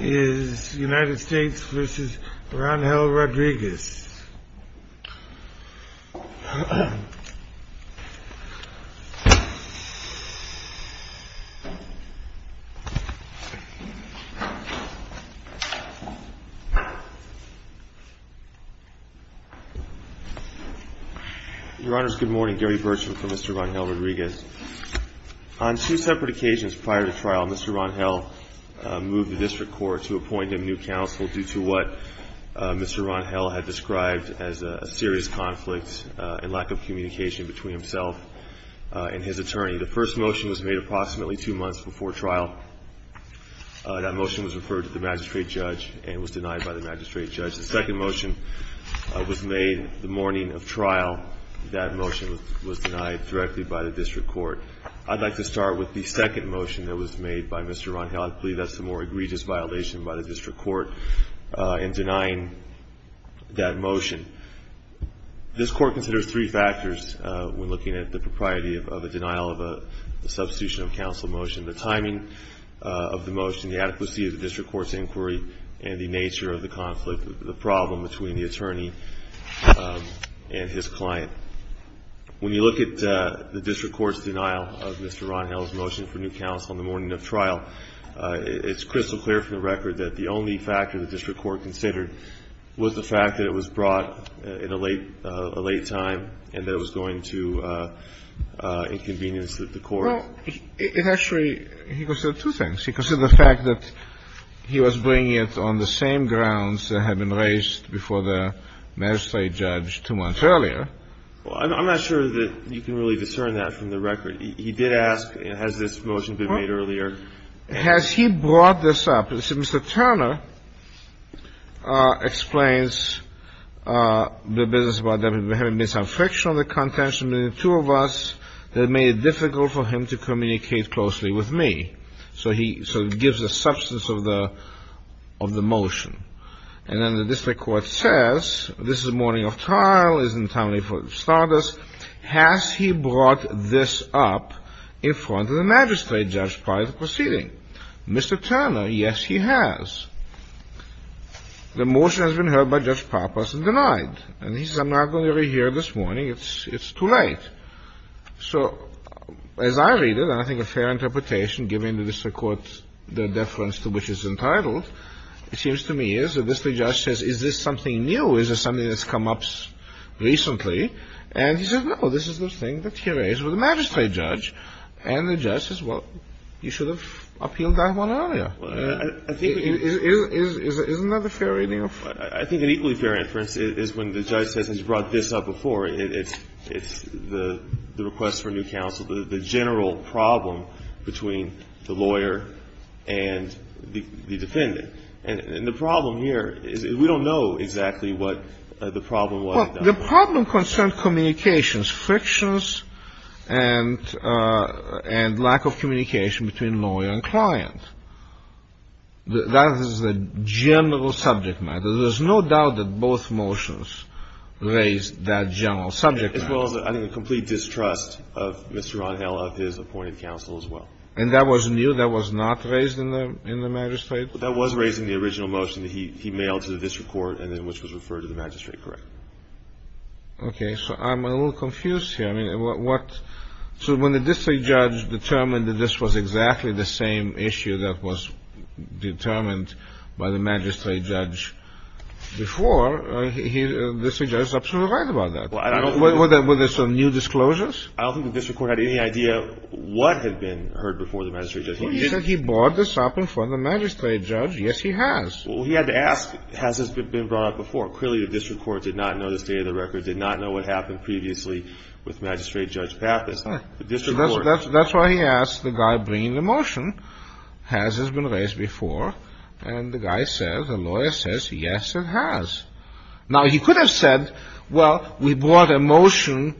Your honors, good morning. Gary Burcham for Mr. Rangel-Rodriguez. On two separate occasions prior to trial, Mr. Rangel moved the district court to appoint him new counsel due to what Mr. Rangel had described as a serious conflict and lack of communication between himself and his attorney. The first motion was made approximately two months before trial. That motion was referred to the magistrate judge and was denied by the magistrate judge. The second motion was made the morning of trial. That motion was denied directly by the district court. I'd like to start with the second motion that was made by Mr. Rangel. I believe that's the more egregious violation by the district court in denying that motion. This court considers three factors when looking at the propriety of a denial of a substitution of counsel motion. The timing of the motion, the adequacy of the district court's inquiry, and the nature of the conflict, the problem between the attorney and his client. When you look at the district court's denial of Mr. Rangel's motion for new counsel on the morning of trial, it's crystal clear from the record that the only factor the district court considered was the fact that it was brought in a late time and that it was going to inconvenience the court. Well, it actually he considered two things. He considered the fact that he was bringing it on the same grounds that had been raised before the magistrate judge two months earlier. Well, I'm not sure that you can really discern that from the record. He did ask, has this motion been made earlier? Has he brought this up? Mr. Turner explains the business about them having made some friction on the contention between the two of us that made it difficult for him to communicate closely with me. So he sort of gives the substance of the motion. And then the district court says, this is the morning of trial, it's in time for starters. Has he brought this up in front of the magistrate judge prior to the proceeding? Mr. Turner, yes, he has. The motion has been heard by Judge Papas and denied. And he says, I'm not going to rehear this morning. It's too late. So as I read it, and I think a fair interpretation, given the district court's deference to which it's entitled, it seems to me as if the district judge says, is this something new? Is this something that's come up recently? And he says, no, this is the thing that he raised with the magistrate judge. And the judge says, well, you should have appealed that one earlier. Isn't that a fair reading of it? I think an equally fair inference is when the judge says, has he brought this up before? It's the request for new counsel, the general problem between the lawyer and the defendant. And the problem here is we don't know exactly what the problem was. Well, the problem concerned communications, frictions, and lack of communication between lawyer and client. That is the general subject matter. There's no doubt that both motions raised that general subject matter. As well as, I think, the complete distrust of Mr. Ron Hale of his appointed counsel as well. And that was new? That was not raised in the magistrate? That was raised in the original motion that he mailed to the district court, and then which was referred to the magistrate, correct. OK. So I'm a little confused here. I mean, what? So when the district judge determined that this was exactly the same issue that was before, the district judge is absolutely right about that. Were there some new disclosures? I don't think the district court had any idea what had been heard before the magistrate judge. He said he brought this up in front of the magistrate judge. Yes, he has. Well, he had to ask, has this been brought up before? Clearly, the district court did not know the state of the record, did not know what happened previously with Magistrate Judge Pappas. That's why he asked the guy bringing the motion, has this been raised before? And the guy says, the lawyer says, yes, it has. Now, he could have said, well, we brought a motion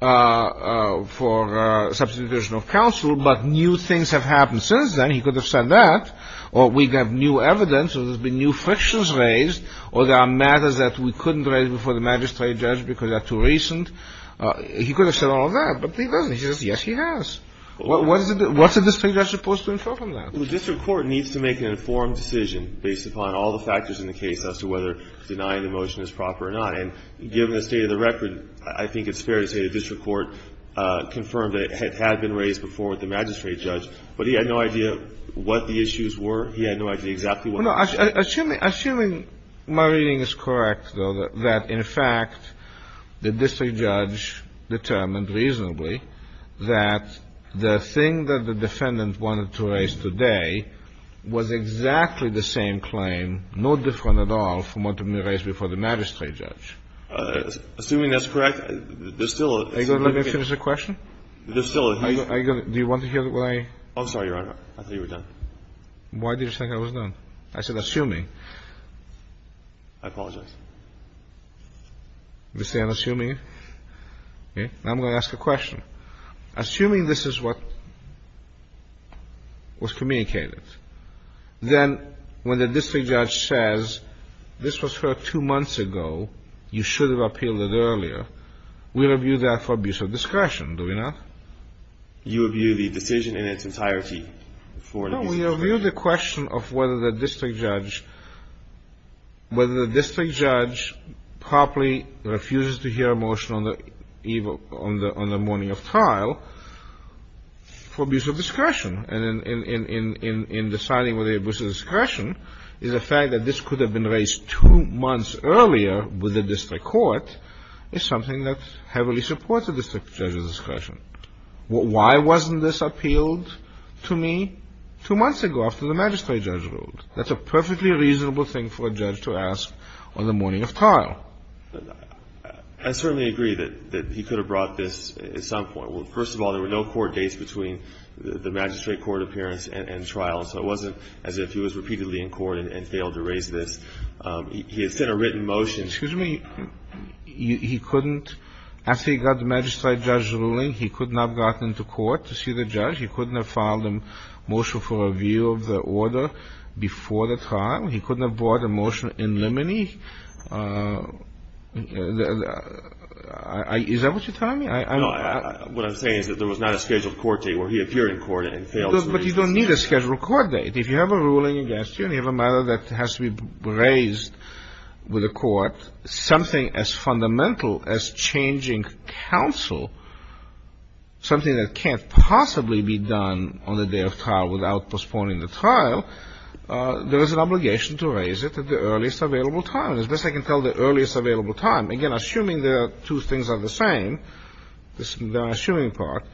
for substitution of counsel, but new things have happened since then. He could have said that. Or we have new evidence, or there's been new frictions raised, or there are matters that we couldn't raise before the magistrate judge because they're too recent. He could have said all of that. But he doesn't. He says, yes, he has. What's a district judge supposed to infer from that? Well, the district court needs to make an informed decision based upon all the factors in the case as to whether denying the motion is proper or not. And given the state of the record, I think it's fair to say the district court confirmed that it had been raised before with the magistrate judge. But he had no idea what the issues were. He had no idea exactly what the issues were. Assuming my reading is correct, though, that, in fact, the district judge determined reasonably that the thing that the defendant wanted to raise today was exactly the same claim, no different at all, from what had been raised before the magistrate judge. Assuming that's correct, there's still a case to be made. Are you going to let me finish the question? There's still a case to be made. Are you going to do you want to hear what I am? I'm sorry, Your Honor. I thought you were done. Why did you think I was done? I said assuming. I apologize. You say I'm assuming? Okay. Now I'm going to ask a question. Assuming this is what was communicated, then when the district judge says this was heard two months ago, you should have appealed it earlier, we review that for abuse of discretion, do we not? You review the decision in its entirety for an abuse of discretion. No, we review the question of whether the district judge properly refuses to hear a motion on the morning of trial for abuse of discretion, and in deciding whether it was an abuse of discretion, the fact that this could have been raised two months earlier with the district court is something that heavily supports a district judge's discretion. Why wasn't this appealed to me? Two months ago after the magistrate judge ruled. That's a perfectly reasonable thing for a judge to ask on the morning of trial. I certainly agree that he could have brought this at some point. First of all, there were no court dates between the magistrate court appearance and trial, so it wasn't as if he was repeatedly in court and failed to raise this. He had sent a written motion. Excuse me. He couldn't, after he got the magistrate judge's ruling, he could not have gotten into court to see the judge. He couldn't have filed a motion for review of the order before the trial. He couldn't have brought a motion in limine. Is that what you're telling me? No, what I'm saying is that there was not a scheduled court date where he appeared in court and failed to raise this. But you don't need a scheduled court date. If you have a ruling against you and you have a matter that has to be raised with the court, something as fundamental as changing counsel, something that can't possibly be done on the day of trial without postponing the trial, there is an obligation to raise it at the earliest available time. As best I can tell, the earliest available time. Again, assuming the two things are the same, the assuming part,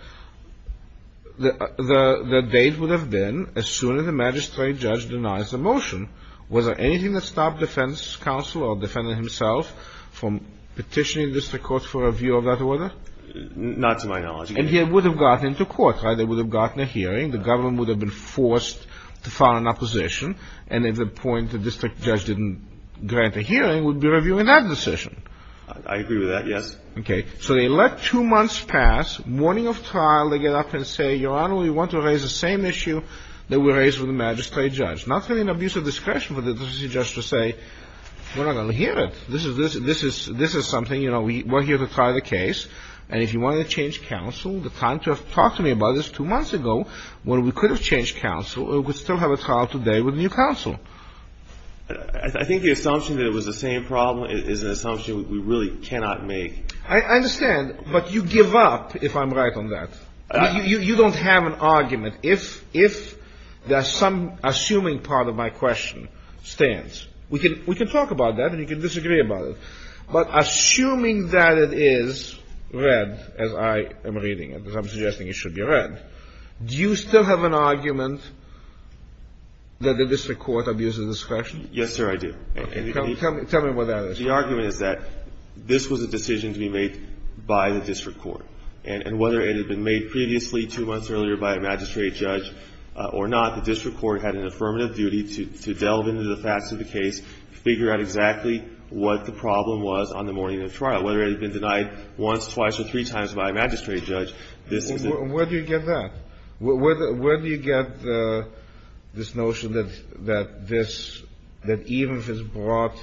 the date would have been as soon as the magistrate judge denies the motion, was there anything that stopped defense counsel or the defendant himself from petitioning the district court for a review of that order? Not to my knowledge. And he would have gotten into court, right? They would have gotten a hearing. The government would have been forced to file an opposition. And at the point the district judge didn't grant a hearing, would be reviewing that decision. I agree with that, yes. Okay, so they let two months pass. Morning of trial, they get up and say, Your Honor, we want to raise the same issue that we raised with the magistrate judge. Not having an abuse of discretion for the district judge to say, We're not going to hear it. This is something, you know, we're here to try the case. And if you want to change counsel, the time to have talked to me about this two months ago when we could have changed counsel, we would still have a trial today with new counsel. I think the assumption that it was the same problem is an assumption we really cannot make. I understand, but you give up if I'm right on that. You don't have an argument. If there's some assuming part of my question stands, we can talk about that and you can disagree about it. But assuming that it is read as I am reading it, as I'm suggesting it should be read, do you still have an argument that the district court abuses discretion? Yes, sir, I do. Tell me what that is. The argument is that this was a decision to be made by the district court. And whether it had been made previously two months earlier by a magistrate judge or not, the district court had an affirmative duty to delve into the facts of the case, figure out exactly what the problem was on the morning of trial, whether it had been denied once, twice, or three times by a magistrate judge. Where do you get that? Where do you get this notion that this, that even if it's brought,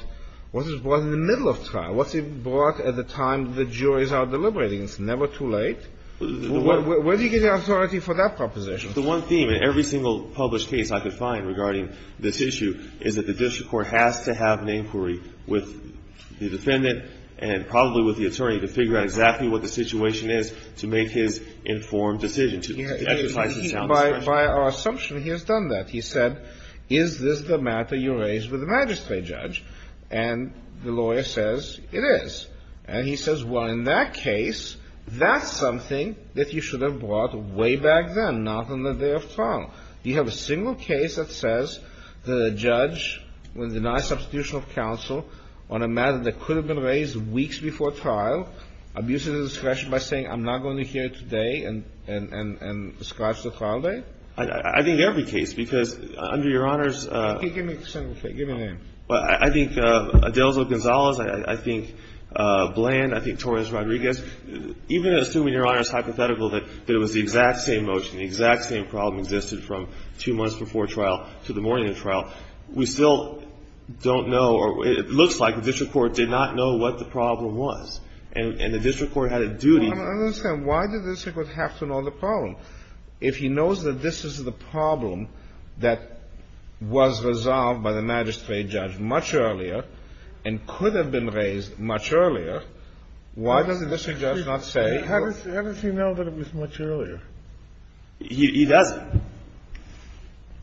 what if it's brought in the middle of trial? What if it's brought at the time the juries are deliberating? It's never too late? Where do you get the authority for that proposition? The one theme in every single published case I could find regarding this issue is that the district court has to have an inquiry with the defendant and probably with the attorney to figure out exactly what the situation is to make his informed decision to exercise his sound discretion. By our assumption, he has done that. He said, is this the matter you raised with the magistrate judge? And the lawyer says it is. And he says, well, in that case, that's something that you should have brought way back then, not on the day of trial. Do you have a single case that says that a judge would deny substitution of counsel on a matter that could have been raised weeks before trial, abuses discretion by saying, I'm not going to hear it today, and describes the trial date? I think every case, because under Your Honors' Okay, give me a single case. Give me a name. I think Adelzo Gonzalez, I think Bland, I think Torres Rodriguez, even assuming Your Honors' hypothetical that it was the exact same motion, the exact same problem existed from two months before trial to the morning of trial. We still don't know, or it looks like the district court did not know what the problem was. And the district court had a duty. I don't understand. Why did the district court have to know the problem? If he knows that this is the problem that was resolved by the magistrate judge much earlier and could have been raised much earlier, why does the district judge not say? How does he know that it was much earlier? He doesn't.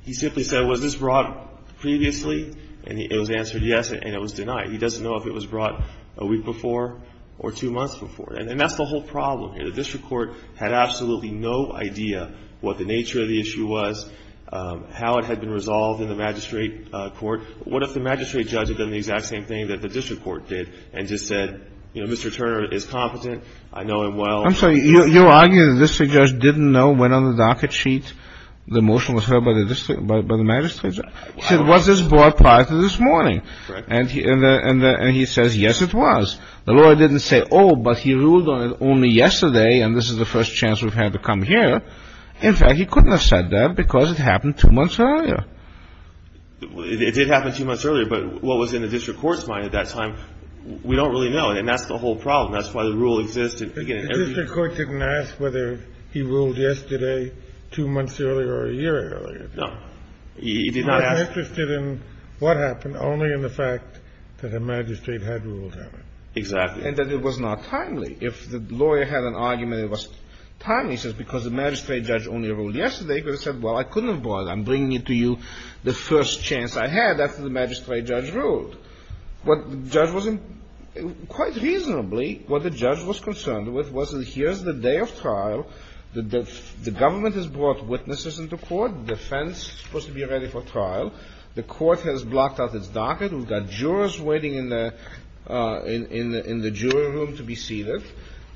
He simply said, was this brought previously? And it was answered yes, and it was denied. He doesn't know if it was brought a week before or two months before. And that's the whole problem here. The district court had absolutely no idea what the nature of the issue was, how it had been resolved in the magistrate court. What if the magistrate judge had done the exact same thing that the district court did and just said, you know, Mr. Turner is competent. I know him well. I'm sorry, you're arguing the district judge didn't know when on the docket sheet the motion was heard by the magistrate judge? He said, was this brought prior to this morning? And he says, yes, it was. The lawyer didn't say, oh, but he ruled on it only yesterday, and this is the first chance we've had to come here. In fact, he couldn't have said that because it happened two months earlier. It did happen two months earlier, but what was in the district court's mind at that time, we don't really know. And that's the whole problem. That's why the rule existed. Again, every year the district court didn't ask whether he ruled yesterday two months earlier or a year earlier. No. He did not ask. He was interested in what happened, only in the fact that the magistrate had ruled on it. Exactly. And that it was not timely. If the lawyer had an argument it was timely, he says, because the magistrate judge only ruled yesterday. He could have said, well, I couldn't have brought it. I'm bringing it to you the first chance I had after the magistrate judge ruled. What the judge wasn't – quite reasonably, what the judge was concerned with was that here's the day of trial. The government has brought witnesses into court. The defense was to be ready for trial. The court has blocked off its docket. We've got jurors waiting in the jury room to be seated.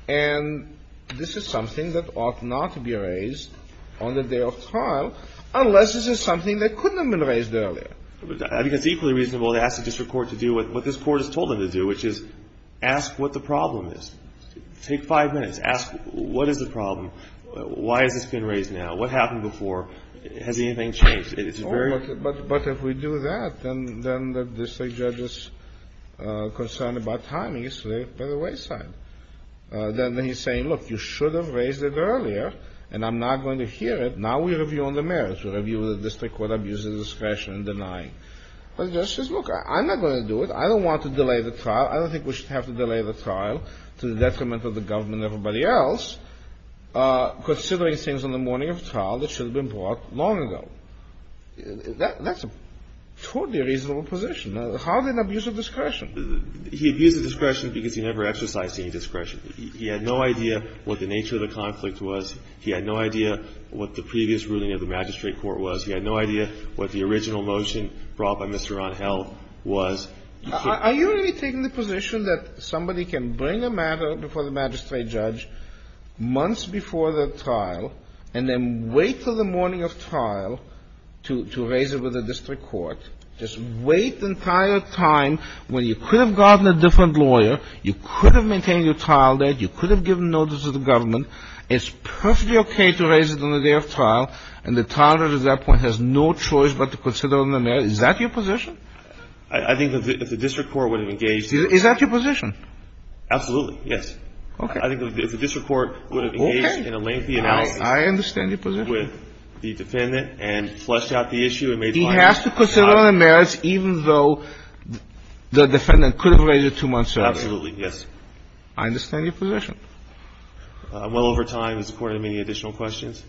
And this is something that ought not to be raised on the day of trial unless this is something that couldn't have been raised earlier. I think it's equally reasonable to ask the district court to do what this court has told them to do, which is ask what the problem is. Take five minutes. Ask what is the problem. Why has this been raised now? What happened before? Has anything changed? But if we do that, then the district judge is concerned about timings by the wayside. Then he's saying, look, you should have raised it earlier, and I'm not going to hear it. Now we review on the merits. We review what the district court abuses discretion in denying. But the judge says, look, I'm not going to do it. I don't want to delay the trial. I don't think we should have to delay the trial to the detriment of the government and everybody else, considering things on the morning of trial that should have been brought long ago. That's a totally reasonable position. How did he abuse of discretion? He abused of discretion because he never exercised any discretion. He had no idea what the nature of the conflict was. He had no idea what the previous ruling of the magistrate court was. He had no idea what the original motion brought by Mr. Ron Held was. Are you really taking the position that somebody can bring a matter before the magistrate judge months before the trial and then wait till the morning of trial to raise it with the district court, just wait the entire time when you could have gotten a different lawyer, you could have maintained your trial date, you could have given notice to the government. It's perfectly okay to raise it on the day of trial, and the trial judge at that point has no choice but to consider it on the merits. Is that your position? I think that if the district court would have engaged in a lengthy analysis with the defendant and fleshed out the issue and made the lawyer stop. He has to consider it on the merits, even though the defendant could have raised it two months earlier. Absolutely, yes. I understand your position. I'm well over time and supported many additional questions.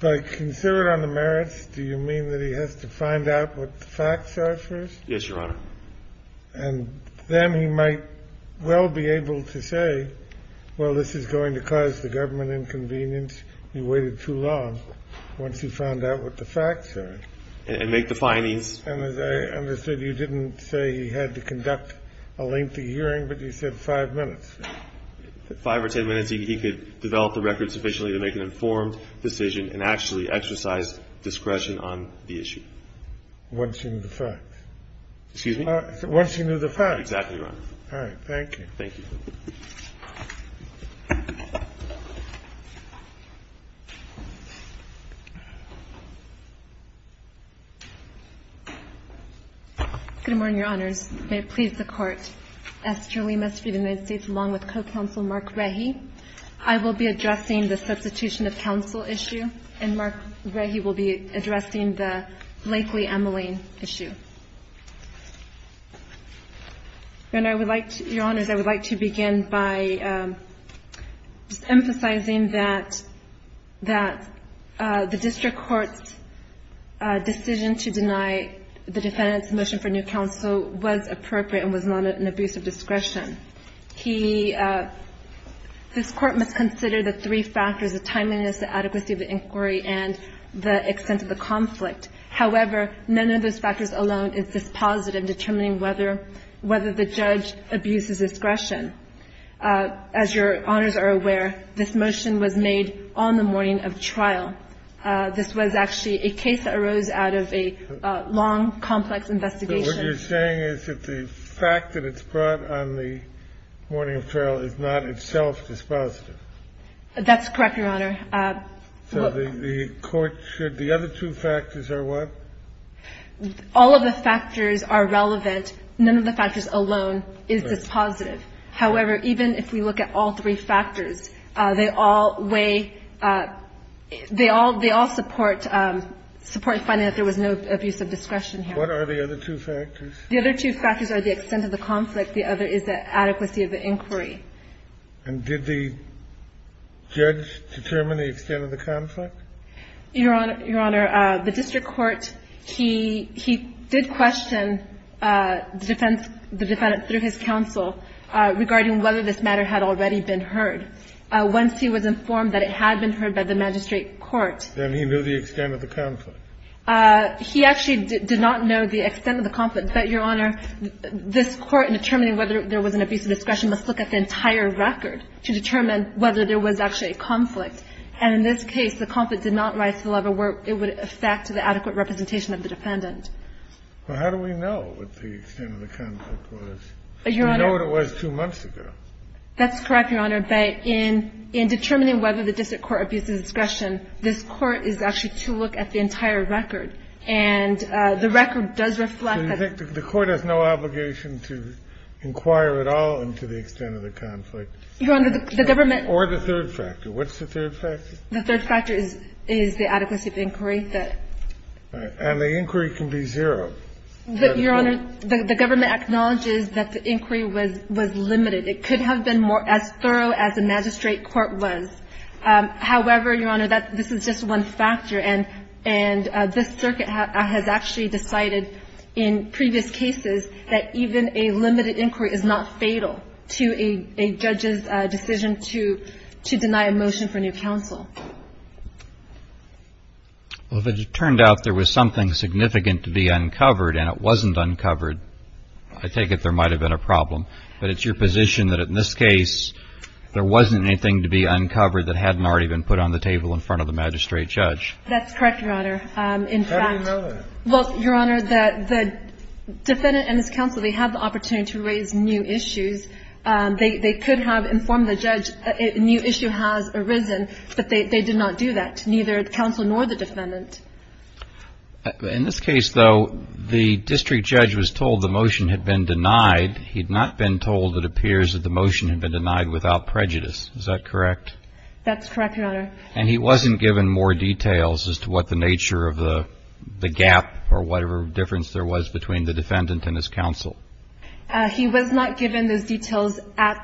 By consider it on the merits, do you mean that he has to find out what the facts are first? Yes, Your Honor. And then he might well be able to say, well, this is going to cause the government inconvenience. He waited too long once he found out what the facts are. And make the findings. And as I understood, you didn't say he had to conduct a lengthy hearing, but you said five minutes. Five or ten minutes, he could develop the record sufficiently to make an informed decision and actually exercise discretion on the issue. Once he knew the facts. Excuse me? Once he knew the facts. Exactly, Your Honor. All right. Thank you. Thank you. Good morning, Your Honors. May it please the Court. Esther Lima, Street of the United States, along with co-counsel Mark Rehi. I will be addressing the substitution of counsel issue, and Mark Rehi will be addressing the Blakely-Emeline issue. Your Honors, I would like to begin by just emphasizing that the district court's decision to deny the defendant's motion for new counsel was appropriate and was not an abuse of discretion. He – this Court must consider the three factors, the timeliness, the adequacy of the inquiry, and the extent of the conflict. However, none of those factors alone is dispositive in determining whether the judge abuses discretion. As Your Honors are aware, this motion was made on the morning of trial. This was actually a case that arose out of a long, complex investigation. What you're saying is that the fact that it's brought on the morning of trial is not itself dispositive. That's correct, Your Honor. So the Court should – the other two factors are what? All of the factors are relevant. None of the factors alone is dispositive. However, even if we look at all three factors, they all weigh – they all support finding that there was no abuse of discretion here. What are the other two factors? The other two factors are the extent of the conflict. The other is the adequacy of the inquiry. And did the judge determine the extent of the conflict? Your Honor, the district court, he did question the defense – the defendant through his counsel regarding whether this matter had already been heard. Once he was informed that it had been heard by the magistrate court – Then he knew the extent of the conflict. He actually did not know the extent of the conflict. But, Your Honor, this Court, in determining whether there was an abuse of discretion, must look at the entire record to determine whether there was actually a conflict. And in this case, the conflict did not rise to the level where it would affect the adequate representation of the defendant. Well, how do we know what the extent of the conflict was? We know what it was two months ago. That's correct, Your Honor. But in determining whether the district court abuses discretion, this Court is actually to look at the entire record. And the record does reflect that – So you think the Court has no obligation to inquire at all into the extent of the conflict? Your Honor, the government – Or the third factor. What's the third factor? The third factor is the adequacy of the inquiry. And the inquiry can be zero. Your Honor, the government acknowledges that the inquiry was limited. It could have been as thorough as the magistrate court was. However, Your Honor, that – this is just one factor. And this circuit has actually decided in previous cases that even a limited inquiry is not fatal to a judge's decision to deny a motion for new counsel. Well, if it turned out there was something significant to be uncovered and it wasn't uncovered, I take it there might have been a problem. But it's your position that in this case, there wasn't anything to be uncovered that hadn't already been put on the table in front of the magistrate judge? That's correct, Your Honor. In fact – How do you know that? Well, Your Honor, that the defendant and his counsel, they had the opportunity to raise new issues. They could have informed the judge a new issue has arisen, but they did not do that. Neither the counsel nor the defendant. In this case, though, the district judge was told the motion had been denied. He had not been told it appears that the motion had been denied without prejudice. Is that correct? That's correct, Your Honor. And he wasn't given more details as to what the nature of the gap or whatever difference there was between the defendant and his counsel? He was not given those details at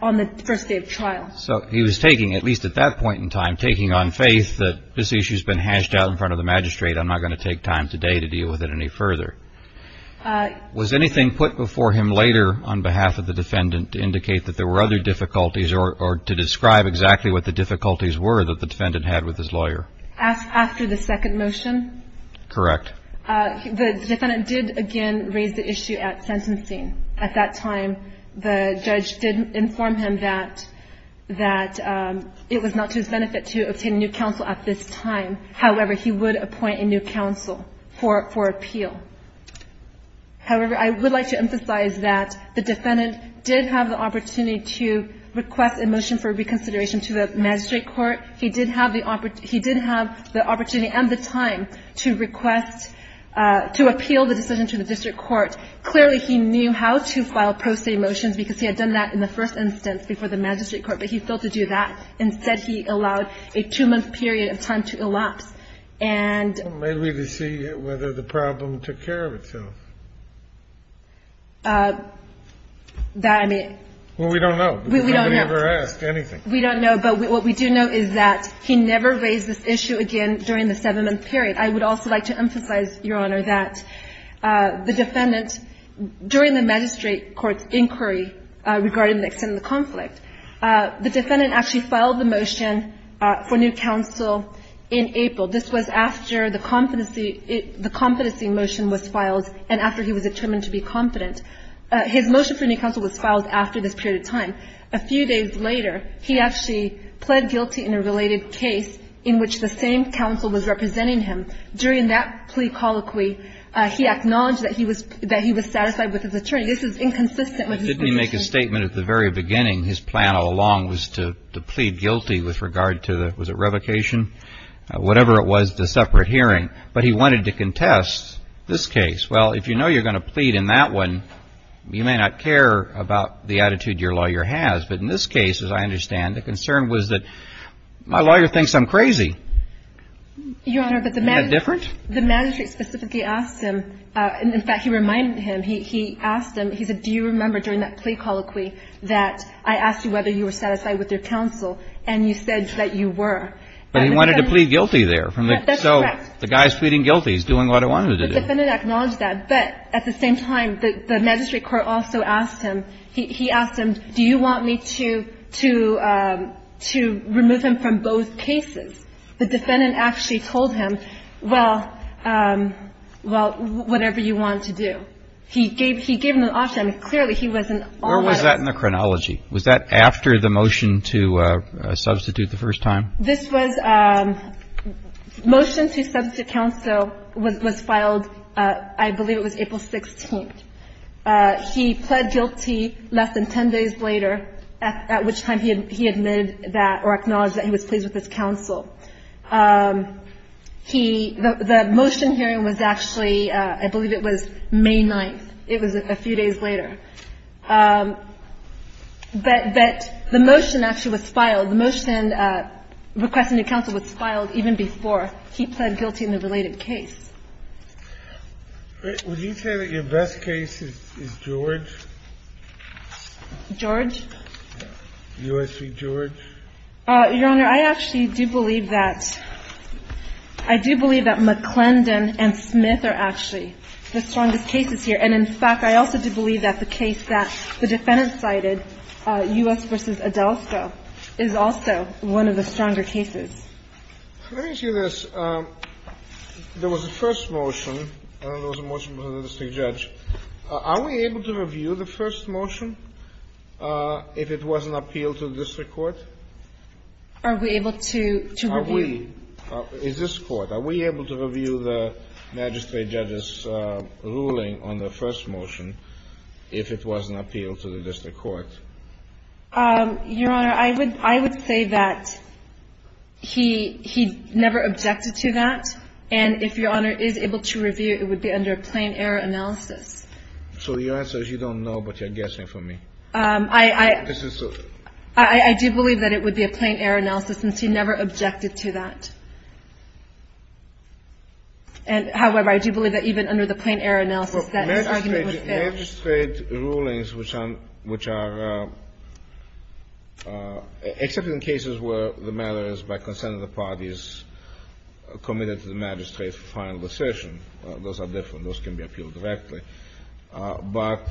– on the first day of trial. So he was taking, at least at that point in time, taking on faith that this issue has been hashed out in front of the magistrate. I'm not going to take time today to deal with it any further. Was anything put before him later on behalf of the defendant to indicate that there were other difficulties or to describe exactly what the difficulties were that the defendant had with his lawyer? After the second motion? Correct. The defendant did, again, raise the issue at sentencing. At that time, the judge did inform him that – that it was not to his benefit to obtain new counsel at this time. However, he would appoint a new counsel for – for appeal. However, I would like to emphasize that the defendant did have the opportunity to request a motion for reconsideration to the magistrate court. He did have the – he did have the opportunity and the time to request – to appeal the decision to the district court. Clearly, he knew how to file pro se motions because he had done that in the first instance before the magistrate court, but he failed to do that. And – Well, maybe to see whether the problem took care of itself. That, I mean – Well, we don't know. We don't know. Because nobody ever asked anything. We don't know. But what we do know is that he never raised this issue again during the seven-month period. I would also like to emphasize, Your Honor, that the defendant, during the magistrate court's inquiry regarding the extent of the conflict, the defendant actually filed the motion for new counsel in April. This was after the competency – the competency motion was filed and after he was determined to be confident. His motion for new counsel was filed after this period of time. A few days later, he actually pled guilty in a related case in which the same counsel was representing him. During that plea colloquy, he acknowledged that he was – that he was satisfied with his attorney. This is inconsistent with his position. Didn't he make a statement at the very beginning, his plan all along was to plead guilty with regard to the – was it revocation? Whatever it was, the separate hearing. But he wanted to contest this case. Well, if you know you're going to plead in that one, you may not care about the attitude your lawyer has. But in this case, as I understand, the concern was that my lawyer thinks I'm crazy. Your Honor, but the – Isn't that different? The magistrate specifically asked him – in fact, he reminded him. He asked him – he said, do you remember during that plea colloquy that I asked you whether you were satisfied with your counsel, and you said that you were. But he wanted to plead guilty there from the – so the guy's pleading guilty. He's doing what he wanted to do. The defendant acknowledged that. But at the same time, the magistrate court also asked him – he asked him, do you want me to – to remove him from both cases? The defendant actually told him, well, whatever you want to do. He gave him an option. Clearly, he wasn't always – Where was that in the chronology? Was that after the motion to substitute the first time? This was – motion to substitute counsel was filed – I believe it was April 16th. He pled guilty less than 10 days later, at which time he admitted that – or acknowledged that he was pleased with his counsel. He – the motion hearing was actually – I believe it was May 9th. It was a few days later. But the motion actually was filed. The motion requesting new counsel was filed even before he pled guilty in the related case. Would you say that your best case is George? George? U.S. v. George. Your Honor, I actually do believe that – I do believe that McClendon and Smith are actually the strongest cases here. And, in fact, I also do believe that the case that the defendant cited, U.S. v. Adelsto, is also one of the stronger cases. Let me ask you this. There was a first motion. There was a motion by the district judge. Are we able to review the first motion if it was an appeal to the district court? Are we able to review? Are we – is this Court – are we able to review the magistrate judge's ruling on the first motion if it was an appeal to the district court? Your Honor, I would say that he never objected to that. And if Your Honor is able to review, it would be under a plain error analysis. So your answer is you don't know, but you're guessing for me. I do believe that it would be a plain error analysis since he never objected to that. And, however, I do believe that even under the plain error analysis, that his argument was fair. Well, magistrate rulings, which are – except in cases where the matter is by consent of the parties committed to the magistrate's final decision. Those are different. Those can be appealed directly. But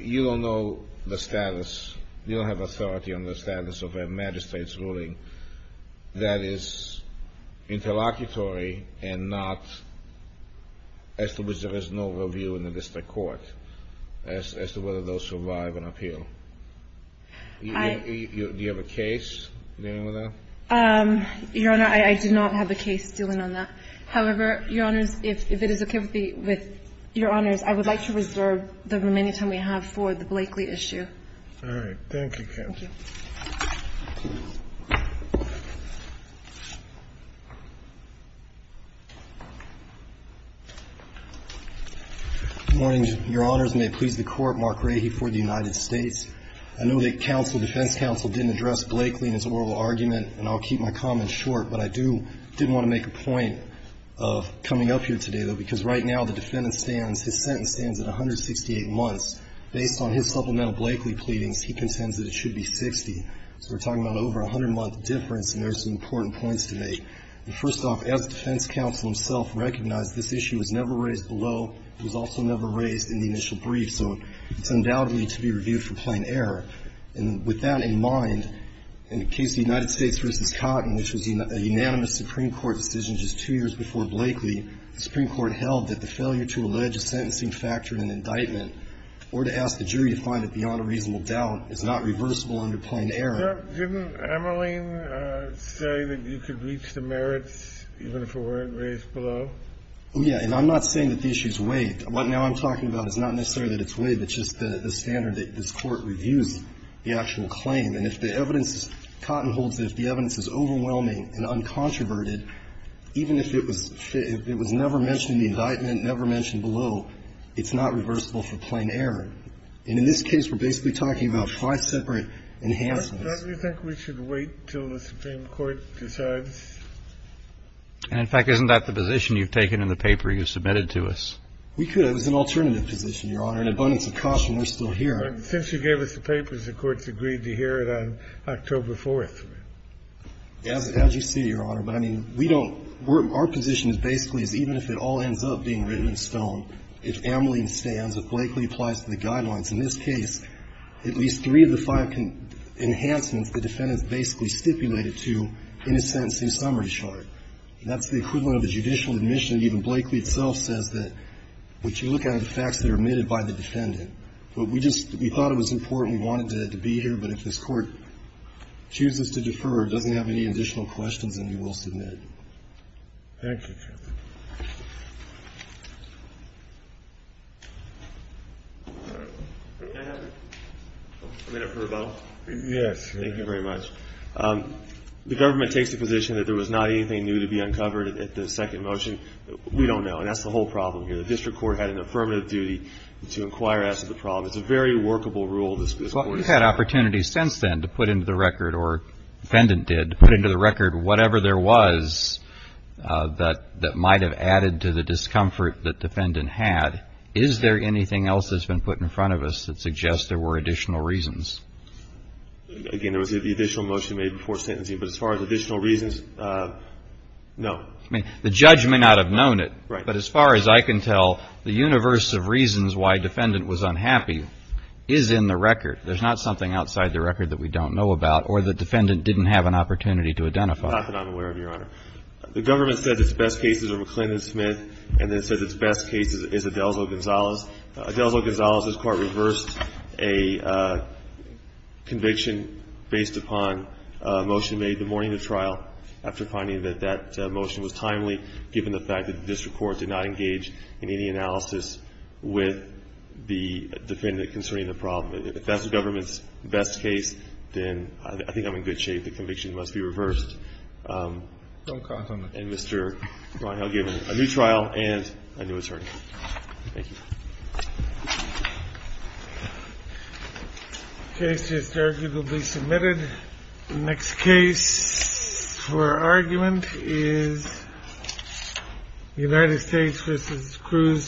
you don't know the status. You don't have authority on the status of a magistrate's ruling that is interlocutory and not – as to which there is no review in the district court as to whether those survive an appeal. Do you have a case dealing with that? Your Honor, I do not have a case dealing on that. However, Your Honors, if it is okay with Your Honors, I would like to reserve the remaining time we have for the Blakely issue. All right. Thank you, Counsel. Thank you. Good morning, Your Honors. May it please the Court. Mark Rahe for the United States. I know that counsel – defense counsel didn't address Blakely in his oral argument, and I'll keep my comments short, but I do – didn't want to make a point of coming up here today, though, because right now the defendant stands – his sentence at 168 months. Based on his supplemental Blakely pleadings, he contends that it should be 60. So we're talking about over a 100-month difference, and there are some important points to make. First off, as defense counsel himself recognized, this issue was never raised below. It was also never raised in the initial brief. So it's undoubtedly to be reviewed for plain error. And with that in mind, in the case of the United States v. Cotton, which was a unanimous Supreme Court decision just two years before Blakely, the Supreme Court held that the factoring and indictment, or to ask the jury to find it beyond a reasonable doubt, is not reversible under plain error. Didn't Emmerlein say that you could reach the merits even if it weren't raised below? Yeah. And I'm not saying that the issue's waived. What now I'm talking about is not necessarily that it's waived. It's just the standard that this Court reviews the actual claim. And if the evidence – Cotton holds that if the evidence is overwhelming and uncontroverted, even if it was never mentioned in the indictment, never mentioned below, it's not reversible for plain error. And in this case, we're basically talking about five separate enhancements. Don't you think we should wait until the Supreme Court decides? And, in fact, isn't that the position you've taken in the paper you submitted to us? We could. It was an alternative position, Your Honor. An abundance of caution, we're still here. But since you gave us the papers, the Court's agreed to hear it on October 4th. As you see, Your Honor, but, I mean, we don't – our position is basically is even if it all ends up being written in stone, if Ameline stands, if Blakely applies to the guidelines, in this case, at least three of the five enhancements the defendant's basically stipulated to in a sentencing summary chart. And that's the equivalent of a judicial admission. Even Blakely itself says that, would you look at the facts that are omitted by the defendant. But we just – we thought it was important. We wanted it to be here. But if this Court chooses to defer or doesn't have any additional questions, then we will submit it. Thank you, Your Honor. May I have a minute for a moment? Yes. Thank you very much. The government takes the position that there was not anything new to be uncovered at the second motion. We don't know. And that's the whole problem here. The district court had an affirmative duty to inquire as to the problem. It's a very workable rule. Well, we've had opportunities since then to put into the record, or the defendant did, to put into the record whatever there was that might have added to the discomfort that the defendant had. Is there anything else that's been put in front of us that suggests there were additional reasons? Again, there was the additional motion made before sentencing. But as far as additional reasons, no. I mean, the judge may not have known it. Right. But as far as I can tell, the universe of reasons why the defendant was unhappy is in the record. There's not something outside the record that we don't know about, or the defendant didn't have an opportunity to identify. Not that I'm aware of, Your Honor. The government said its best cases are McClendon-Smith, and then said its best cases is Adelzo-Gonzalez. Adelzo-Gonzalez, this Court reversed a conviction based upon a motion made the morning of trial after finding that that motion was timely, given the fact that the defendant is concerning the problem. If that's the government's best case, then I think I'm in good shape. The conviction must be reversed. And Mr. Ron Hill given a new trial and a new attorney. Thank you. The case is arguably submitted. The next case for argument is United States v. Cruz-Gonzalez.